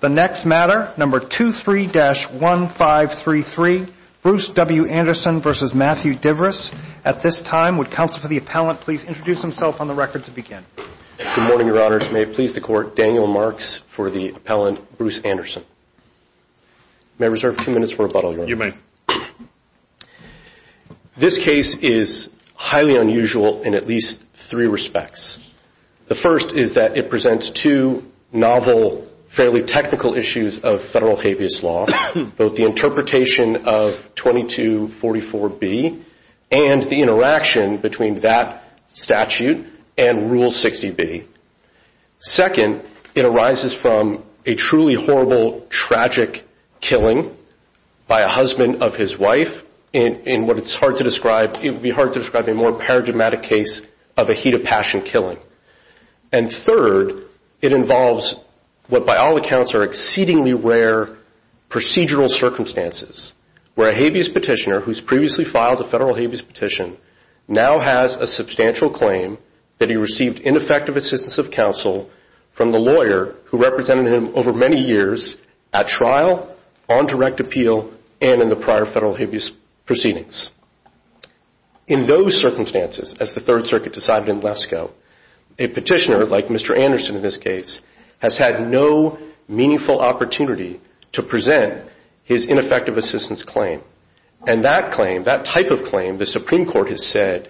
The next matter, number 23-1533, Bruce W. Anderson v. Matthew Divris. At this time, would counsel for the appellant please introduce himself on the record to begin? Good morning, Your Honors. May it please the Court, Daniel Marks for the appellant, Bruce Anderson. May I reserve two minutes for rebuttal, Your Honor? You may. This case is highly unusual in at least three respects. The first is that it presents two novel, fairly technical issues of federal habeas law, both the interpretation of 2244B and the interaction between that statute and Rule 60B. Second, it arises from a truly horrible, tragic killing by a husband of his wife in what it's hard to describe, it would be hard to describe a more paradigmatic case of a heat of passion killing. And third, it involves what by all accounts are exceedingly rare procedural circumstances where a habeas petitioner who's previously filed a federal habeas petition now has a substantial claim that he received ineffective assistance of counsel from the lawyer who represented him over many years at trial, on direct appeal, and in the prior federal habeas proceedings. In those circumstances, as the Third Circuit decided in Lesko, a petitioner, like Mr. Anderson in this case, has had no meaningful opportunity to present his ineffective assistance claim. And that claim, that type of claim, the Supreme Court has said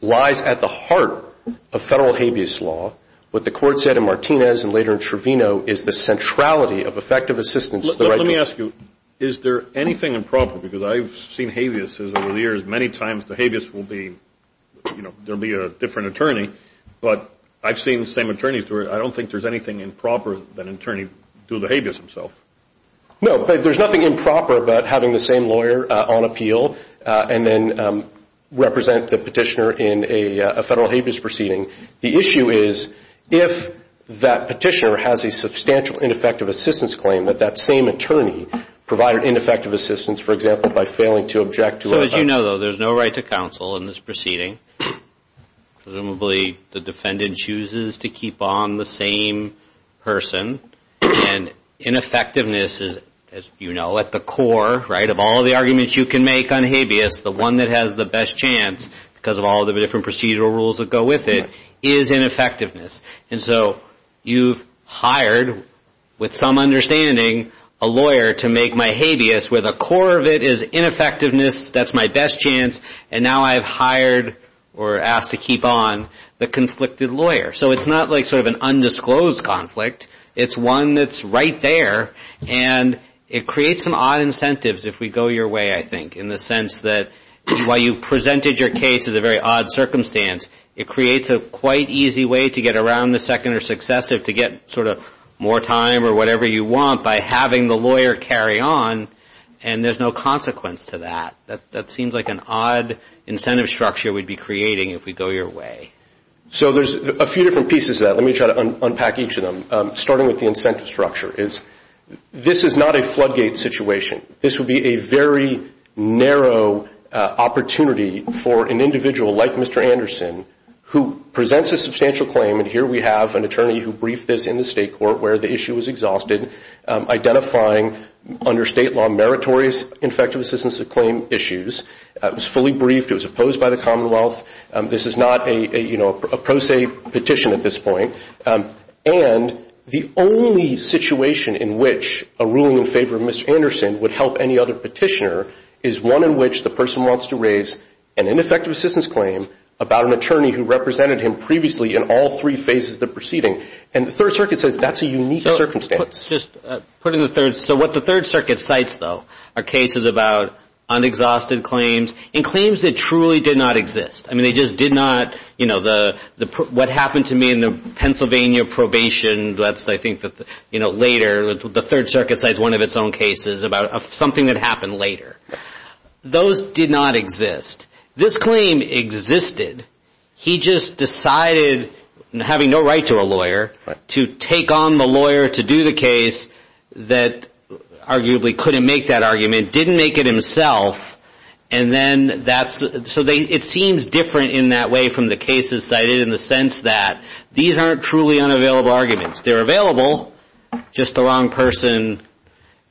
lies at the heart of federal habeas law. What the court said in Martinez and later in Trevino is the centrality of effective assistance. Let me ask you, is there anything improper? Because I've seen habeases over the years. Many times the habeas will be, you know, there will be a different attorney. But I've seen the same attorneys. I don't think there's anything improper that an attorney do to the habeas himself. No, but there's nothing improper about having the same lawyer on appeal and then represent the petitioner in a federal habeas proceeding. The issue is, if that petitioner has a substantial ineffective assistance claim, that that same attorney provided ineffective assistance, for example, by failing to object to it. So as you know, though, there's no right to counsel in this proceeding. Presumably the defendant chooses to keep on the same person. And ineffectiveness is, as you know, at the core, right, of all the arguments you can make on habeas, the one that has the best chance because of all the different procedural rules that go with it, is ineffectiveness. And so you've hired, with some understanding, a lawyer to make my habeas where the core of it is ineffectiveness, that's my best chance, and now I've hired or asked to keep on the conflicted lawyer. So it's not like sort of an undisclosed conflict. It's one that's right there, and it creates some odd incentives if we go your way, I think, in the sense that while you presented your case as a very odd circumstance, it creates a quite easy way to get around the second or successive, to get sort of more time or whatever you want by having the lawyer carry on, and there's no consequence to that. That seems like an odd incentive structure we'd be creating if we go your way. So there's a few different pieces to that. Let me try to unpack each of them, starting with the incentive structure. This is not a floodgate situation. This would be a very narrow opportunity for an individual like Mr. Anderson, who presents a substantial claim, and here we have an attorney who briefed this in the state court where the issue was exhausted, identifying under state law meritorious effective assistance of claim issues. It was fully briefed. It was opposed by the Commonwealth. This is not a pro se petition at this point. And the only situation in which a ruling in favor of Mr. Anderson would help any other petitioner is one in which the person wants to raise an ineffective assistance claim about an attorney who represented him previously in all three phases of the proceeding, and the Third Circuit says that's a unique circumstance. So what the Third Circuit cites, though, are cases about unexhausted claims and claims that truly did not exist. I mean, they just did not, you know, what happened to me in the Pennsylvania probation, that's I think later, the Third Circuit cites one of its own cases about something that happened later. Those did not exist. This claim existed. He just decided, having no right to a lawyer, to take on the lawyer to do the case that arguably couldn't make that argument, didn't make it himself, and then that's, so it seems different in that way from the cases that I did in the sense that these aren't truly unavailable arguments. They're available, just the wrong person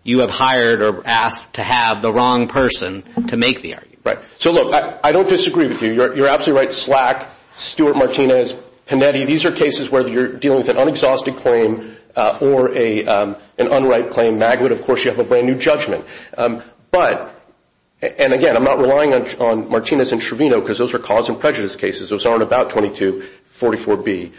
you have hired or asked to have, the wrong person to make the argument. Right. So look, I don't disagree with you. You're absolutely right. SLAC, Stuart Martinez, Panetti, these are cases where you're dealing with an unexhausted claim or an unright claim. Magwood, of course, you have a brand new judgment. But, and again, I'm not relying on Martinez and Trevino because those are cause and prejudice cases. Those aren't about 2244B.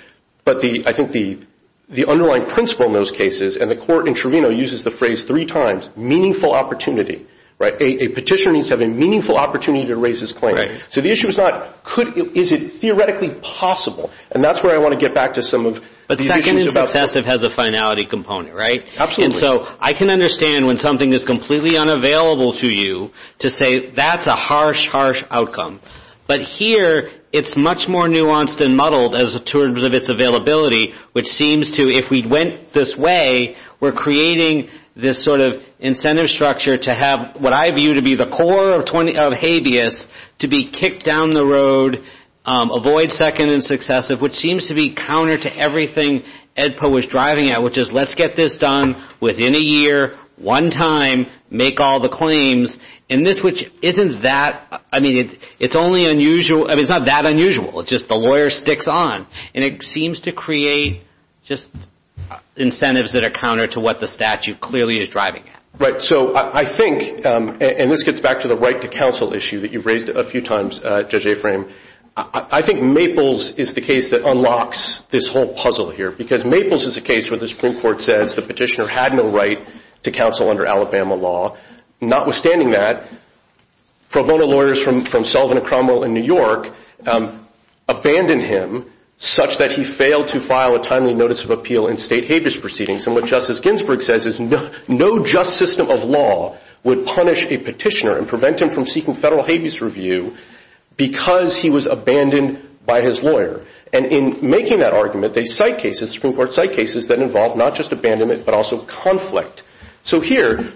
But I think the underlying principle in those cases, and the court in Trevino uses the phrase three times, meaningful opportunity, right? A petitioner needs to have a meaningful opportunity to raise his claim. So the issue is not, is it theoretically possible? And that's where I want to get back to some of the issues about... But second and successive has a finality component, right? Absolutely. And so I can understand when something is completely unavailable to you to say, that's a harsh, harsh outcome. But here, it's much more nuanced and muddled as the terms of its availability, which seems to, if we went this way, we're creating this sort of incentive structure to have what I view to be the core of habeas to be kicked down the road, avoid second and successive, which seems to be counter to everything EDPA was driving at, which is let's get this done within a year, one time, make all the claims. And this, which isn't that... I mean, it's only unusual... I mean, it's not that unusual. It's just the lawyer sticks on. And it seems to create just incentives that are counter to what the statute clearly is driving at. Right. So I think, and this gets back to the right to counsel issue that you've raised a few times, Judge Aframe, I think Maples is the case that unlocks this whole puzzle here. Because Maples is a case where the Supreme Court says the petitioner had no right to counsel under Alabama law. Notwithstanding that, Pro Bono lawyers from Sullivan and Cromwell in New York abandoned him such that he failed to file a timely notice of appeal in state habeas proceedings. And what Justice Ginsburg says is no just system of law would punish a petitioner and prevent him from seeking federal habeas review because he was abandoned by his lawyer. And in making that argument, they cite cases, Supreme Court cite cases that involve not just abandonment but also conflict. So here,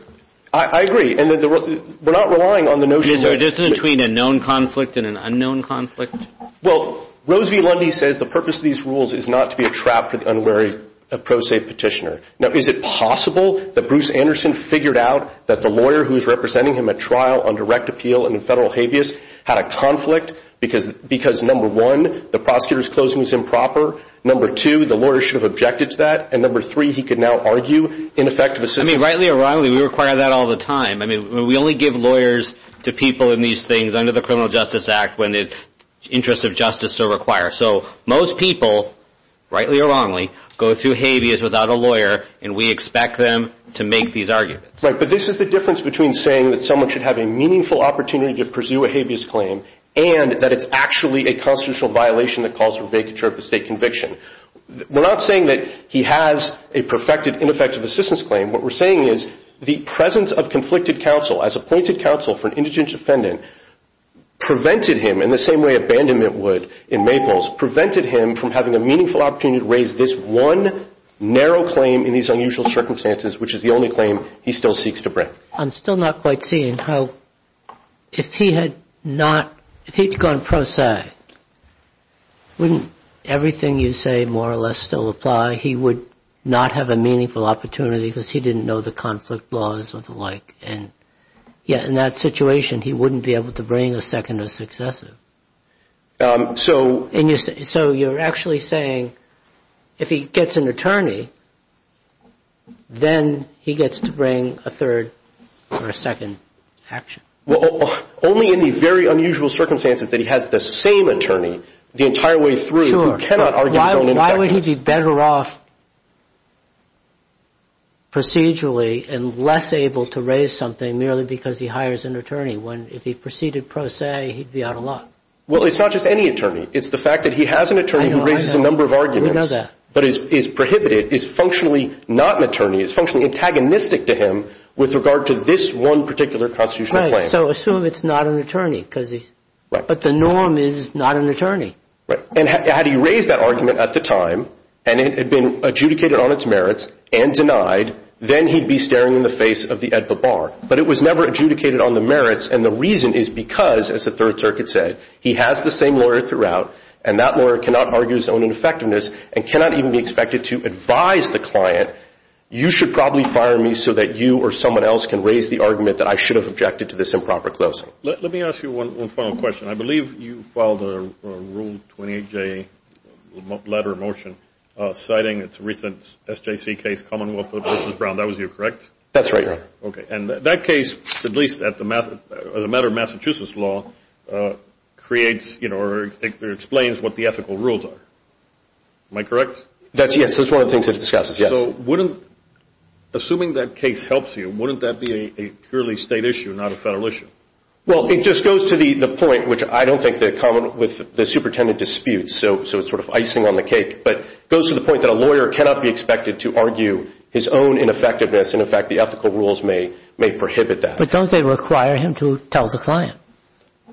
I agree. And we're not relying on the notion that... Is there a difference between a known conflict and an unknown conflict? Well, Rose v. Lundy says the purpose of these rules is not to be a trap for the unwary pro se petitioner. Now, is it possible that Bruce Anderson figured out that the lawyer who is representing him at trial on direct appeal in federal habeas had a conflict because, number one, the prosecutor's closing was improper? Number two, the lawyer should have objected to that? And number three, he could now argue ineffective assistance... I mean, rightly or wrongly, we require that all the time. I mean, we only give lawyers to people in these things under the Criminal Justice Act when the interests of justice are required. So most people, rightly or wrongly, go through habeas without a lawyer, and we expect them to make these arguments. Right, but this is the difference between saying that someone should have a meaningful opportunity to pursue a habeas claim and that it's actually a constitutional violation that calls for vacature of the state conviction. We're not saying that he has a perfected, ineffective assistance claim. What we're saying is the presence of conflicted counsel, as appointed counsel for an indigent defendant, prevented him in the same way abandonment would in Maples, prevented him from having a meaningful opportunity to raise this one narrow claim in these unusual circumstances, which is the only claim he still seeks to bring. I'm still not quite seeing how if he had gone pro se, wouldn't everything you say more or less still apply? He would not have a meaningful opportunity because he didn't know the conflict laws or the like. And yet in that situation, he wouldn't be able to bring a second or successive. So you're actually saying if he gets an attorney, then he gets to bring a third or a second action? Well, only in the very unusual circumstances that he has the same attorney the entire way through who cannot argue his own ineffectiveness. Sure. Why would he be better off procedurally and less able to raise something merely because he hires an attorney when if he proceeded pro se, he'd be out of luck? Well, it's not just any attorney. It's the fact that he has an attorney who raises a number of arguments. We know that. But is prohibited, is functionally not an attorney, is functionally antagonistic to him with regard to this one particular constitutional claim. Right. So assume it's not an attorney. Right. But the norm is not an attorney. Right. And had he raised that argument at the time and it had been adjudicated on its merits and denied, then he'd be staring in the face of the AEDPA bar. But it was never adjudicated on the merits. And the reason is because, as the Third Circuit said, he has the same lawyer throughout, and that lawyer cannot argue his own ineffectiveness and cannot even be expected to advise the client, you should probably fire me so that you or someone else can raise the argument that I should have objected to this improper closing. Let me ask you one final question. I believe you filed a Rule 28J letter of motion citing its recent SJC case, Commonwealth versus Brown. That was you, correct? That's right, Your Honor. Okay. And that case, at least as a matter of Massachusetts law, creates or explains what the ethical rules are. Am I correct? Yes, that's one of the things that it discusses, yes. So assuming that case helps you, wouldn't that be a purely state issue, not a federal issue? Well, it just goes to the point, which I don't think they're common with the superintendent disputes, so it's sort of icing on the cake, but it goes to the point that a lawyer cannot be expected to argue his own ineffectiveness, and, in fact, the ethical rules may prohibit that. But don't they require him to tell the client?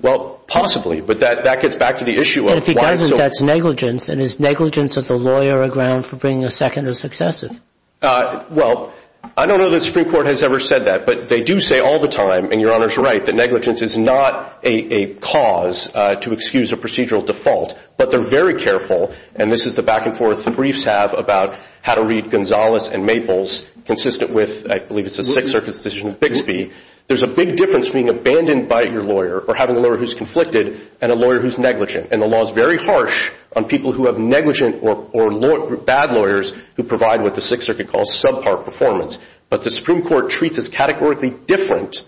Well, possibly, but that gets back to the issue of why it's so important. And if he doesn't, that's negligence, and is negligence of the lawyer a ground for bringing a second or successive? Well, I don't know that the Supreme Court has ever said that, but they do say all the time, and Your Honor's right, that negligence is not a cause to excuse a procedural default, but they're very careful, and this is the back-and-forth the briefs have about how to read Gonzales and Maples consistent with, I believe it's a Sixth Circuit decision, Bixby. There's a big difference being abandoned by your lawyer or having a lawyer who's conflicted and a lawyer who's negligent, and the law is very harsh on people who have negligent or bad lawyers who provide what the Sixth Circuit calls subpar performance. But the Supreme Court treats as categorically different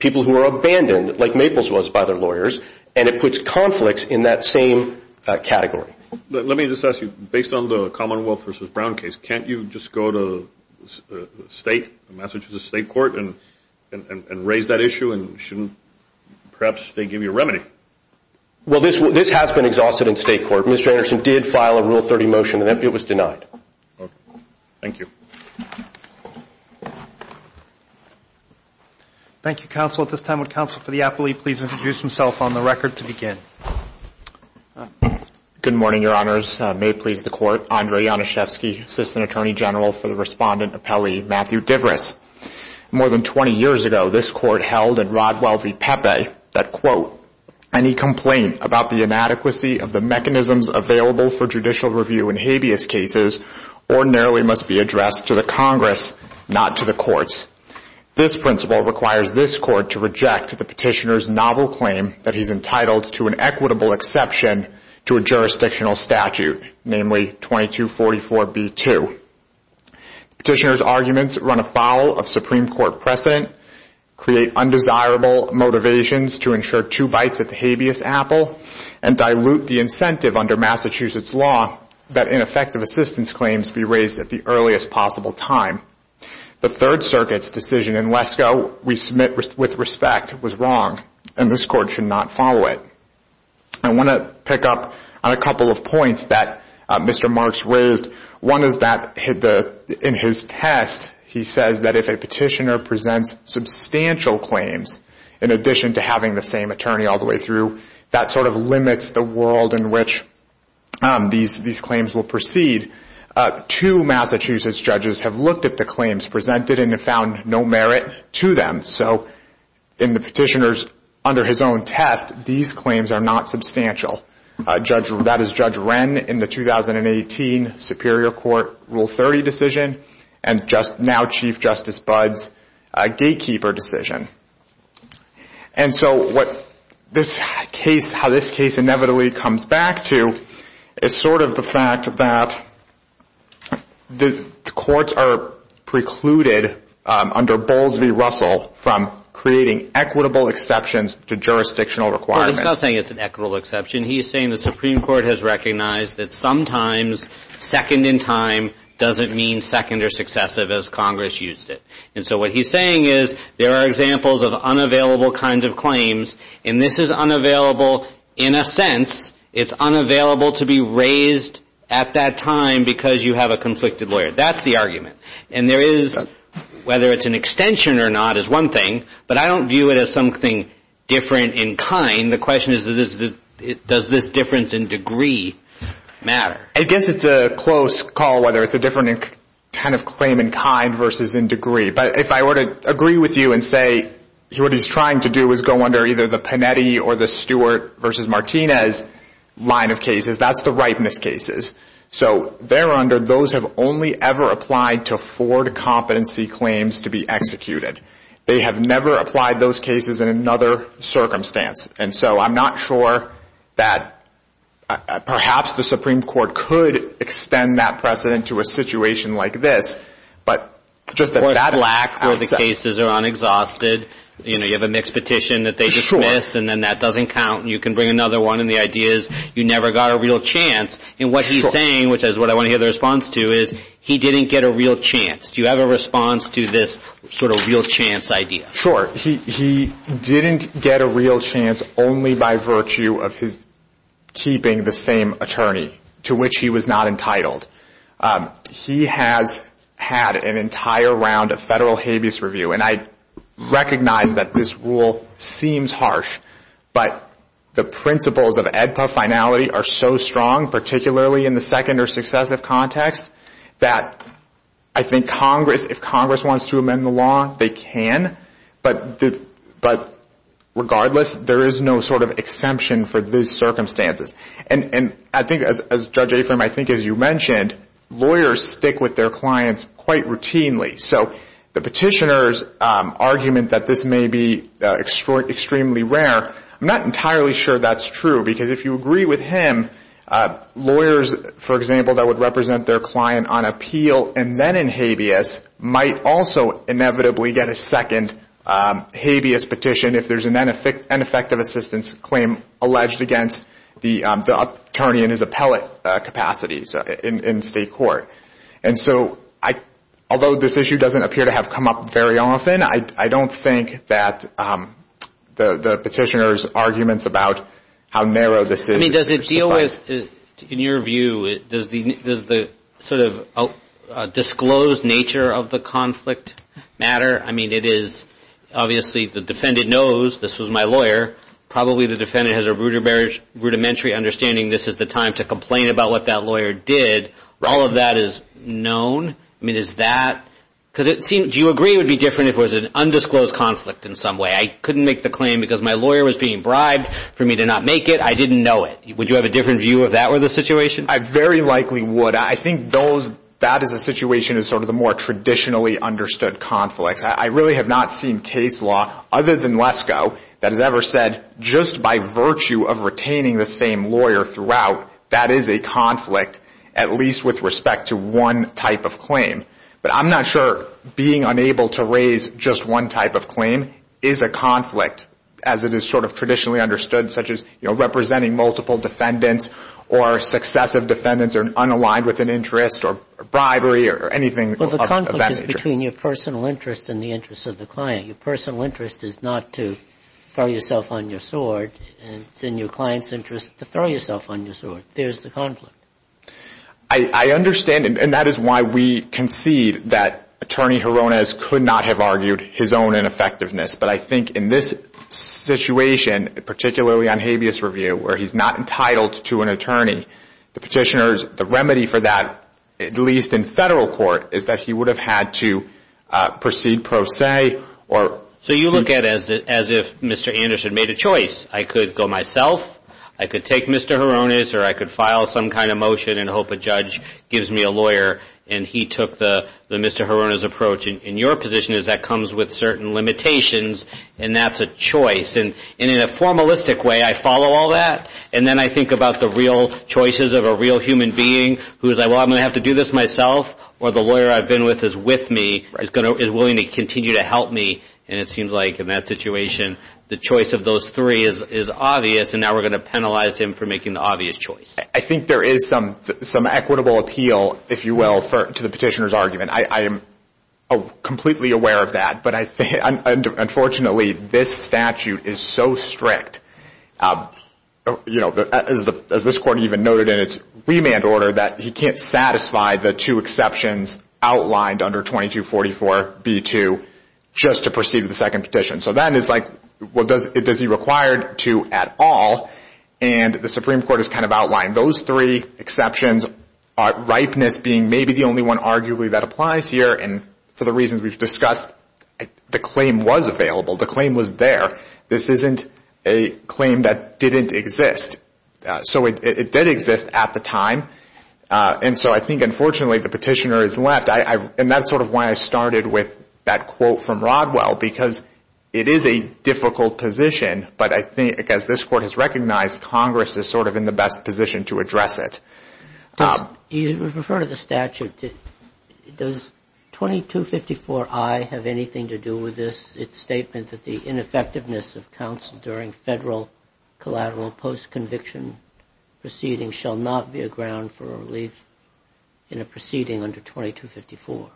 people who are abandoned, like Maples was by their lawyers, and it puts conflicts in that same category. Let me just ask you, based on the Commonwealth v. Brown case, can't you just go to State, Massachusetts State Court, and raise that issue, and shouldn't perhaps they give you a remedy? Well, this has been exhausted in State Court. Mr. Anderson did file a Rule 30 motion, and it was denied. Okay. Thank you. Thank you, Counsel. At this time, would Counsel for the Appellee please introduce himself on the record to begin? Good morning, Your Honors. May it please the Court, Andre Januszewski, Assistant Attorney General for the Respondent Appellee, Matthew Diveris. More than 20 years ago, this Court held in Rodwell v. Pepe that, quote, any complaint about the inadequacy of the mechanisms available for judicial review in habeas cases ordinarily must be addressed to the Congress, not to the courts. This principle requires this Court to reject the Petitioner's novel claim that he's entitled to an equitable exception to a jurisdictional statute, namely 2244b-2. The Petitioner's arguments run afoul of Supreme Court precedent, create undesirable motivations to ensure two bites at the habeas apple, and dilute the incentive under Massachusetts law that ineffective assistance claims be raised at the earliest possible time. The Third Circuit's decision in Lesko we submit with respect was wrong, and this Court should not follow it. I want to pick up on a couple of points that Mr. Marks raised. One is that in his test he says that if a Petitioner presents substantial claims in addition to having the same attorney all the way through, that sort of limits the world in which these claims will proceed. Two Massachusetts judges have looked at the claims presented and have found no merit to them. So in the Petitioner's under his own test, these claims are not substantial. That is Judge Wren in the 2018 Superior Court Rule 30 decision and now Chief Justice Budd's gatekeeper decision. And so how this case inevitably comes back to is sort of the fact that the courts are precluded under Bowles v. Russell from creating equitable exceptions to jurisdictional requirements. Well, he's not saying it's an equitable exception. He's saying the Supreme Court has recognized that sometimes second in time doesn't mean second or successive as Congress used it. And so what he's saying is there are examples of unavailable kinds of claims, and this is unavailable in a sense. It's unavailable to be raised at that time because you have a conflicted lawyer. That's the argument. And there is whether it's an extension or not is one thing, but I don't view it as something different in kind. And the question is does this difference in degree matter? I guess it's a close call whether it's a different kind of claim in kind versus in degree. But if I were to agree with you and say what he's trying to do is go under either the Panetti or the Stewart v. Martinez line of cases, that's the ripeness cases. So there under those have only ever applied to Ford competency claims to be executed. They have never applied those cases in another circumstance. And so I'm not sure that perhaps the Supreme Court could extend that precedent to a situation like this. But just that lack. Or the cases are unexhausted. You have a mixed petition that they dismiss, and then that doesn't count, and you can bring another one, and the idea is you never got a real chance. And what he's saying, which is what I want to hear the response to, is he didn't get a real chance. Do you have a response to this sort of real chance idea? He didn't get a real chance only by virtue of his keeping the same attorney, to which he was not entitled. He has had an entire round of federal habeas review. And I recognize that this rule seems harsh, but the principles of AEDPA finality are so strong, particularly in the second or successive context, that I think Congress, if Congress wants to amend the law, they can. But regardless, there is no sort of exemption for these circumstances. And I think, as Judge Afram, I think as you mentioned, lawyers stick with their clients quite routinely. So the petitioner's argument that this may be extremely rare, I'm not entirely sure that's true. Because if you agree with him, lawyers, for example, that would represent their client on appeal and then in habeas, might also inevitably get a second habeas petition if there's an ineffective assistance claim alleged against the attorney in his appellate capacity in state court. And so, although this issue doesn't appear to have come up very often, I don't think that the petitioner's arguments about how narrow this is. I mean, does it deal with, in your view, does the sort of disclosed nature of the conflict matter? I mean, it is obviously the defendant knows this was my lawyer. Probably the defendant has a rudimentary understanding this is the time to complain about what that lawyer did. All of that is known. I mean, is that, because it seems, do you agree it would be different if it was an undisclosed conflict in some way? I couldn't make the claim because my lawyer was being bribed for me to not make it. I didn't know it. Would you have a different view if that were the situation? I very likely would. I think those, that is a situation of sort of the more traditionally understood conflicts. I really have not seen case law other than LESCO that has ever said just by virtue of retaining the same lawyer throughout, that is a conflict at least with respect to one type of claim. But I'm not sure being unable to raise just one type of claim is a conflict as it is sort of traditionally understood, such as representing multiple defendants or successive defendants or unaligned with an interest or bribery or anything of that nature. Well, the conflict is between your personal interest and the interest of the client. Your personal interest is not to throw yourself on your sword. It's in your client's interest to throw yourself on your sword. There's the conflict. I understand, and that is why we concede that Attorney Joronez could not have argued his own ineffectiveness. But I think in this situation, particularly on habeas review, where he's not entitled to an attorney, the petitioners, the remedy for that, at least in federal court, is that he would have had to proceed pro se. So you look at it as if Mr. Anderson made a choice. I could go myself, I could take Mr. Joronez, or I could file some kind of motion and hope a judge gives me a lawyer, and he took the Mr. Joronez approach. And your position is that comes with certain limitations, and that's a choice. And in a formalistic way, I follow all that, and then I think about the real choices of a real human being who is like, well, I'm going to have to do this myself, or the lawyer I've been with is with me, is willing to continue to help me. And it seems like in that situation, the choice of those three is obvious, and now we're going to penalize him for making the obvious choice. I think there is some equitable appeal, if you will, to the petitioner's argument. I am completely aware of that, but unfortunately, this statute is so strict, as this court even noted in its remand order, that he can't satisfy the two exceptions outlined under 2244b2 just to proceed with the second petition. So then it's like, well, does he require two at all? And the Supreme Court has kind of outlined those three exceptions, ripeness being maybe the only one arguably that applies here, and for the reasons we've discussed, the claim was available, the claim was there. This isn't a claim that didn't exist. So it did exist at the time, and so I think unfortunately the petitioner is left. And that's sort of why I started with that quote from Rodwell, because it is a difficult position, but I think as this court has recognized, Congress is sort of in the best position to address it. You referred to the statute. Does 2254i have anything to do with this, its statement that the ineffectiveness of counsel during Federal collateral post-conviction proceedings shall not be a ground for a relief in a proceeding under 2254?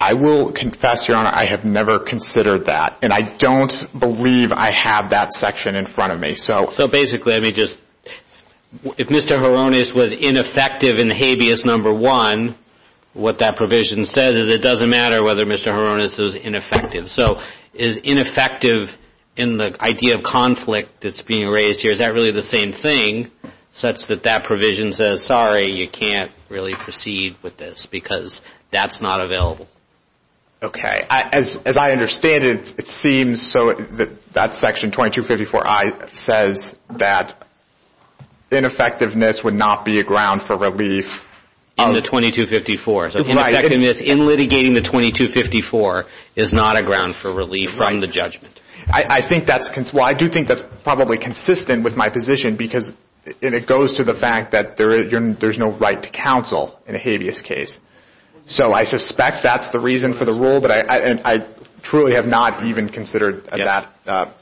I will confess, Your Honor, I have never considered that, and I don't believe I have that section in front of me. So basically, if Mr. Hironis was ineffective in habeas number one, what that provision says is it doesn't matter whether Mr. Hironis is ineffective. So is ineffective in the idea of conflict that's being raised here, is that really the same thing such that that provision says, sorry, you can't really proceed with this because that's not available? Okay. As I understand it, it seems so that that section 2254i says that ineffectiveness would not be a ground for relief. In the 2254. So ineffectiveness in litigating the 2254 is not a ground for relief from the judgment. Well, I do think that's probably consistent with my position because it goes to the fact that there's no right to counsel in a habeas case. So I suspect that's the reason for the rule, but I truly have not even considered that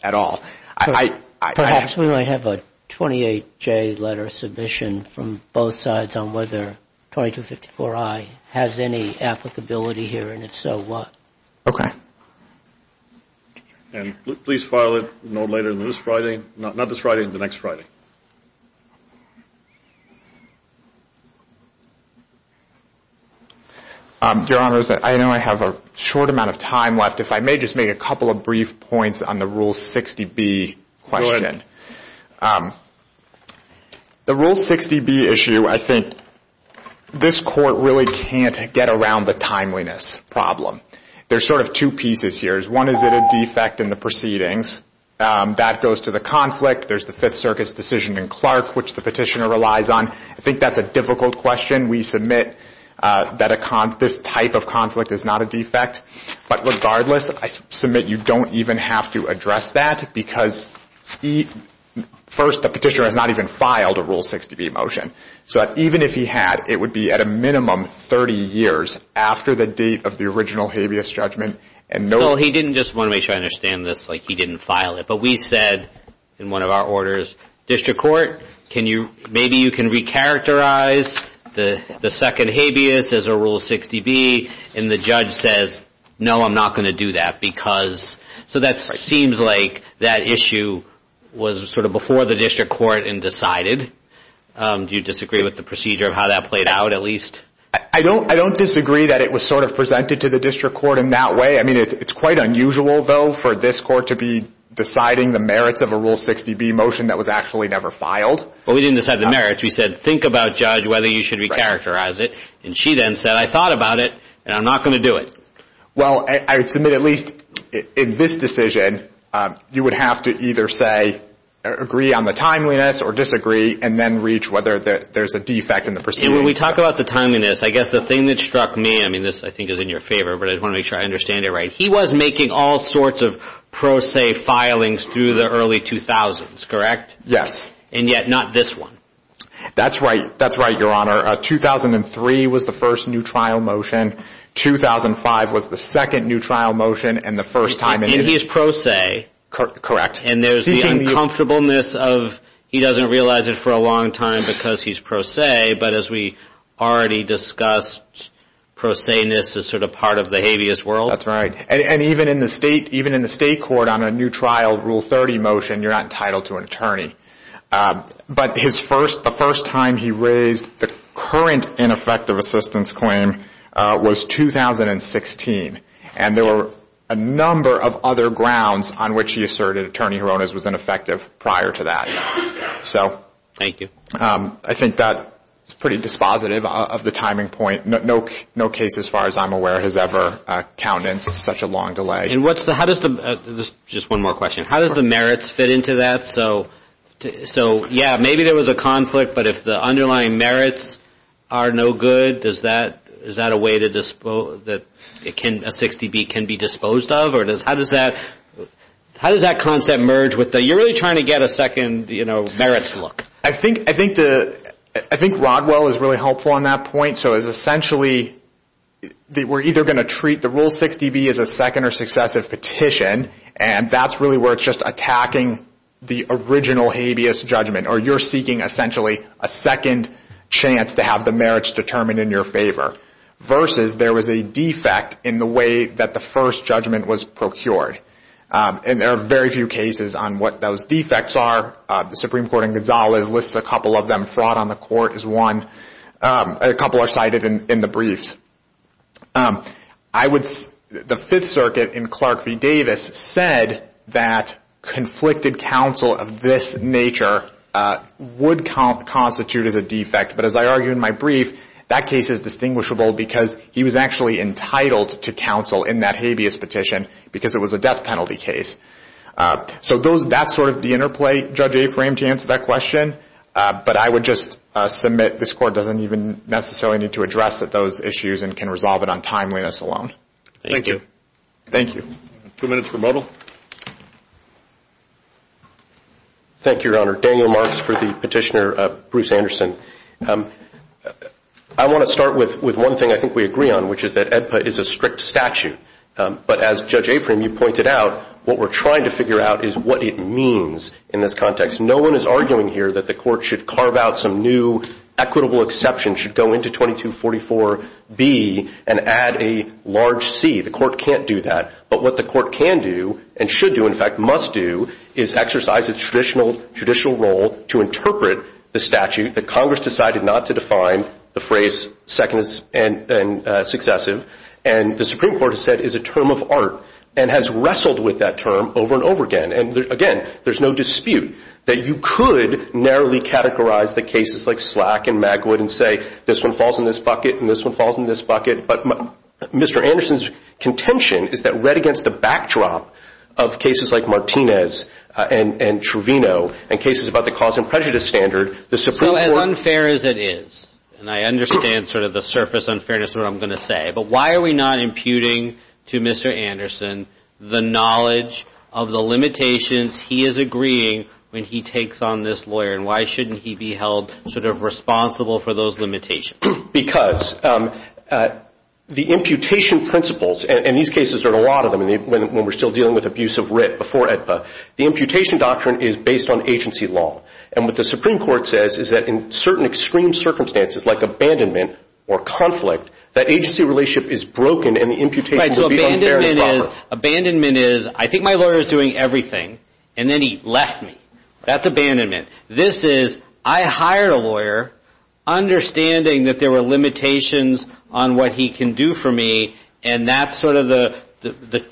at all. Perhaps we might have a 28J letter submission from both sides on whether 2254i has any applicability here, and if so, what? Okay. And please file it no later than this Friday. Not this Friday, the next Friday. Your Honors, I know I have a short amount of time left. If I may just make a couple of brief points on the Rule 60B question. Go ahead. The Rule 60B issue, I think this court really can't get around the timeliness problem. There's sort of two pieces here. One is that a defect in the proceedings. That goes to the conflict. There's the Fifth Circuit's decision in Clark, which the petitioner relies on. I think that's a difficult question. We submit that this type of conflict is not a defect. But regardless, I submit you don't even have to address that because first, the petitioner has not even filed a Rule 60B motion. So even if he had, it would be at a minimum 30 years after the date of the original habeas judgment. Well, he didn't just want to make sure I understand this, like he didn't file it. But we said in one of our orders, District Court, maybe you can recharacterize the second habeas as a Rule 60B. And the judge says, no, I'm not going to do that. So that seems like that issue was sort of before the District Court and decided. Do you disagree with the procedure of how that played out, at least? I don't disagree that it was sort of presented to the District Court in that way. I mean, it's quite unusual, though, for this Court to be deciding the merits of a Rule 60B motion that was actually never filed. Well, we didn't decide the merits. We said, think about, Judge, whether you should recharacterize it. And she then said, I thought about it, and I'm not going to do it. Well, I submit at least in this decision, you would have to either say agree on the timeliness or disagree and then reach whether there's a defect in the procedure. And when we talk about the timeliness, I guess the thing that struck me, I mean, this I think is in your favor, but I want to make sure I understand it right. He was making all sorts of pro se filings through the early 2000s, correct? Yes. And yet not this one. That's right. That's right, Your Honor. 2003 was the first new trial motion. 2005 was the second new trial motion and the first time. And he is pro se. Correct. And there's the uncomfortableness of he doesn't realize it for a long time because he's pro se, but as we already discussed, pro se-ness is sort of part of the habeas world. That's right. And even in the state court on a new trial Rule 30 motion, you're not entitled to an attorney. But the first time he raised the current ineffective assistance claim was 2016. And there were a number of other grounds on which he asserted attorney juronas was ineffective prior to that. Thank you. I think that's pretty dispositive of the timing point. No case, as far as I'm aware, has ever countenanced such a long delay. Just one more question. How does the merits fit into that? So yeah, maybe there was a conflict, but if the underlying merits are no good, is that a way that a 60B can be disposed of? How does that concept merge with the you're really trying to get a second merits look? I think Rodwell is really helpful on that point. So it's essentially we're either going to treat the Rule 60B as a second or successive petition, and that's really where it's just attacking the original habeas judgment, or you're seeking essentially a second chance to have the merits determined in your favor, versus there was a defect in the way that the first judgment was procured. And there are very few cases on what those defects are. The Supreme Court in Gonzales lists a couple of them. Fraud on the court is one. A couple are cited in the briefs. The Fifth Circuit in Clark v. Davis said that conflicted counsel of this nature would constitute as a defect. But as I argue in my brief, that case is distinguishable because he was actually entitled to counsel in that habeas petition because it was a death penalty case. So that's sort of the interplay, Judge Afram, to answer that question. But I would just submit this Court doesn't even necessarily need to address those issues and can resolve it on timeliness alone. Thank you. Thank you. Two minutes for Muddle. Thank you, Your Honor. Daniel Marks for the petitioner, Bruce Anderson. I want to start with one thing I think we agree on, which is that AEDPA is a strict statute. But as Judge Afram, you pointed out, what we're trying to figure out is what it means in this context. No one is arguing here that the court should carve out some new equitable exception, should go into 2244B and add a large C. The court can't do that. But what the court can do and should do, in fact, must do, is exercise its traditional role to interpret the statute that Congress decided not to define, the phrase second and successive. And the Supreme Court has said is a term of art and has wrestled with that term over and over again. And, again, there's no dispute that you could narrowly categorize the cases like Slack and Magwood and say this one falls in this bucket and this one falls in this bucket. But Mr. Anderson's contention is that, read against the backdrop of cases like Martinez and Truvino and cases about the cause and prejudice standard, the Supreme Court. So as unfair as it is, and I understand sort of the surface unfairness of what I'm going to say, but why are we not imputing to Mr. Anderson the knowledge of the limitations he is agreeing when he takes on this lawyer? And why shouldn't he be held sort of responsible for those limitations? Because the imputation principles, and these cases are a lot of them, when we're still dealing with abuse of writ before AEDPA, the imputation doctrine is based on agency law. And what the Supreme Court says is that in certain extreme circumstances, like abandonment or conflict, that agency relationship is broken, and the imputation will be unfair and improper. Abandonment is, I think my lawyer is doing everything, and then he left me. That's abandonment. This is, I hired a lawyer, understanding that there were limitations on what he can do for me, and that's sort of the,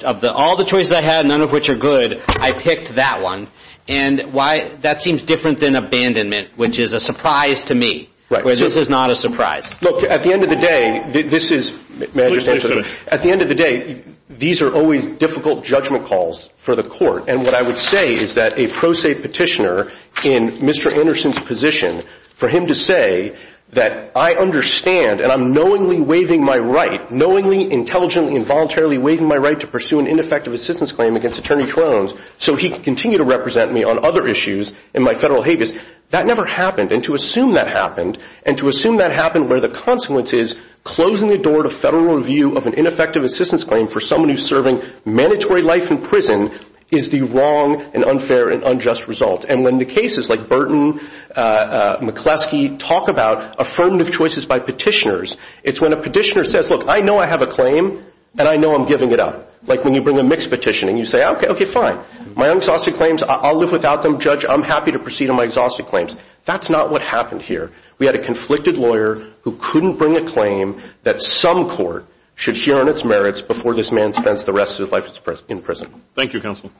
of all the choices I had, none of which are good, I picked that one. And that seems different than abandonment, which is a surprise to me. This is not a surprise. Look, at the end of the day, this is, at the end of the day, these are always difficult judgment calls for the court. And what I would say is that a pro se petitioner in Mr. Anderson's position, for him to say that I understand and I'm knowingly waiving my right, knowingly, intelligently, involuntarily waiving my right to pursue an ineffective assistance claim against Attorney Crone so he can continue to represent me on other issues in my federal habeas, that never happened. And to assume that happened, and to assume that happened where the consequence is, closing the door to federal review of an ineffective assistance claim for someone who's serving mandatory life in prison is the wrong and unfair and unjust result. And when the cases like Burton, McCleskey, talk about affirmative choices by petitioners, it's when a petitioner says, look, I know I have a claim, and I know I'm giving it up. Like when you bring a mixed petition, and you say, okay, okay, fine. My unexhausted claims, I'll live without them, Judge. I'm happy to proceed on my exhausted claims. That's not what happened here. We had a conflicted lawyer who couldn't bring a claim that some court should hear on its merits before this man spends the rest of his life in prison. Thank you, Counsel.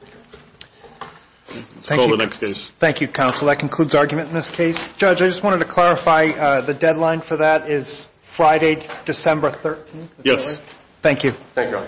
Let's call the next case. Thank you, Counsel. That concludes argument in this case. Judge, I just wanted to clarify the deadline for that is Friday, December 13th? Yes. Thank you. Thank you.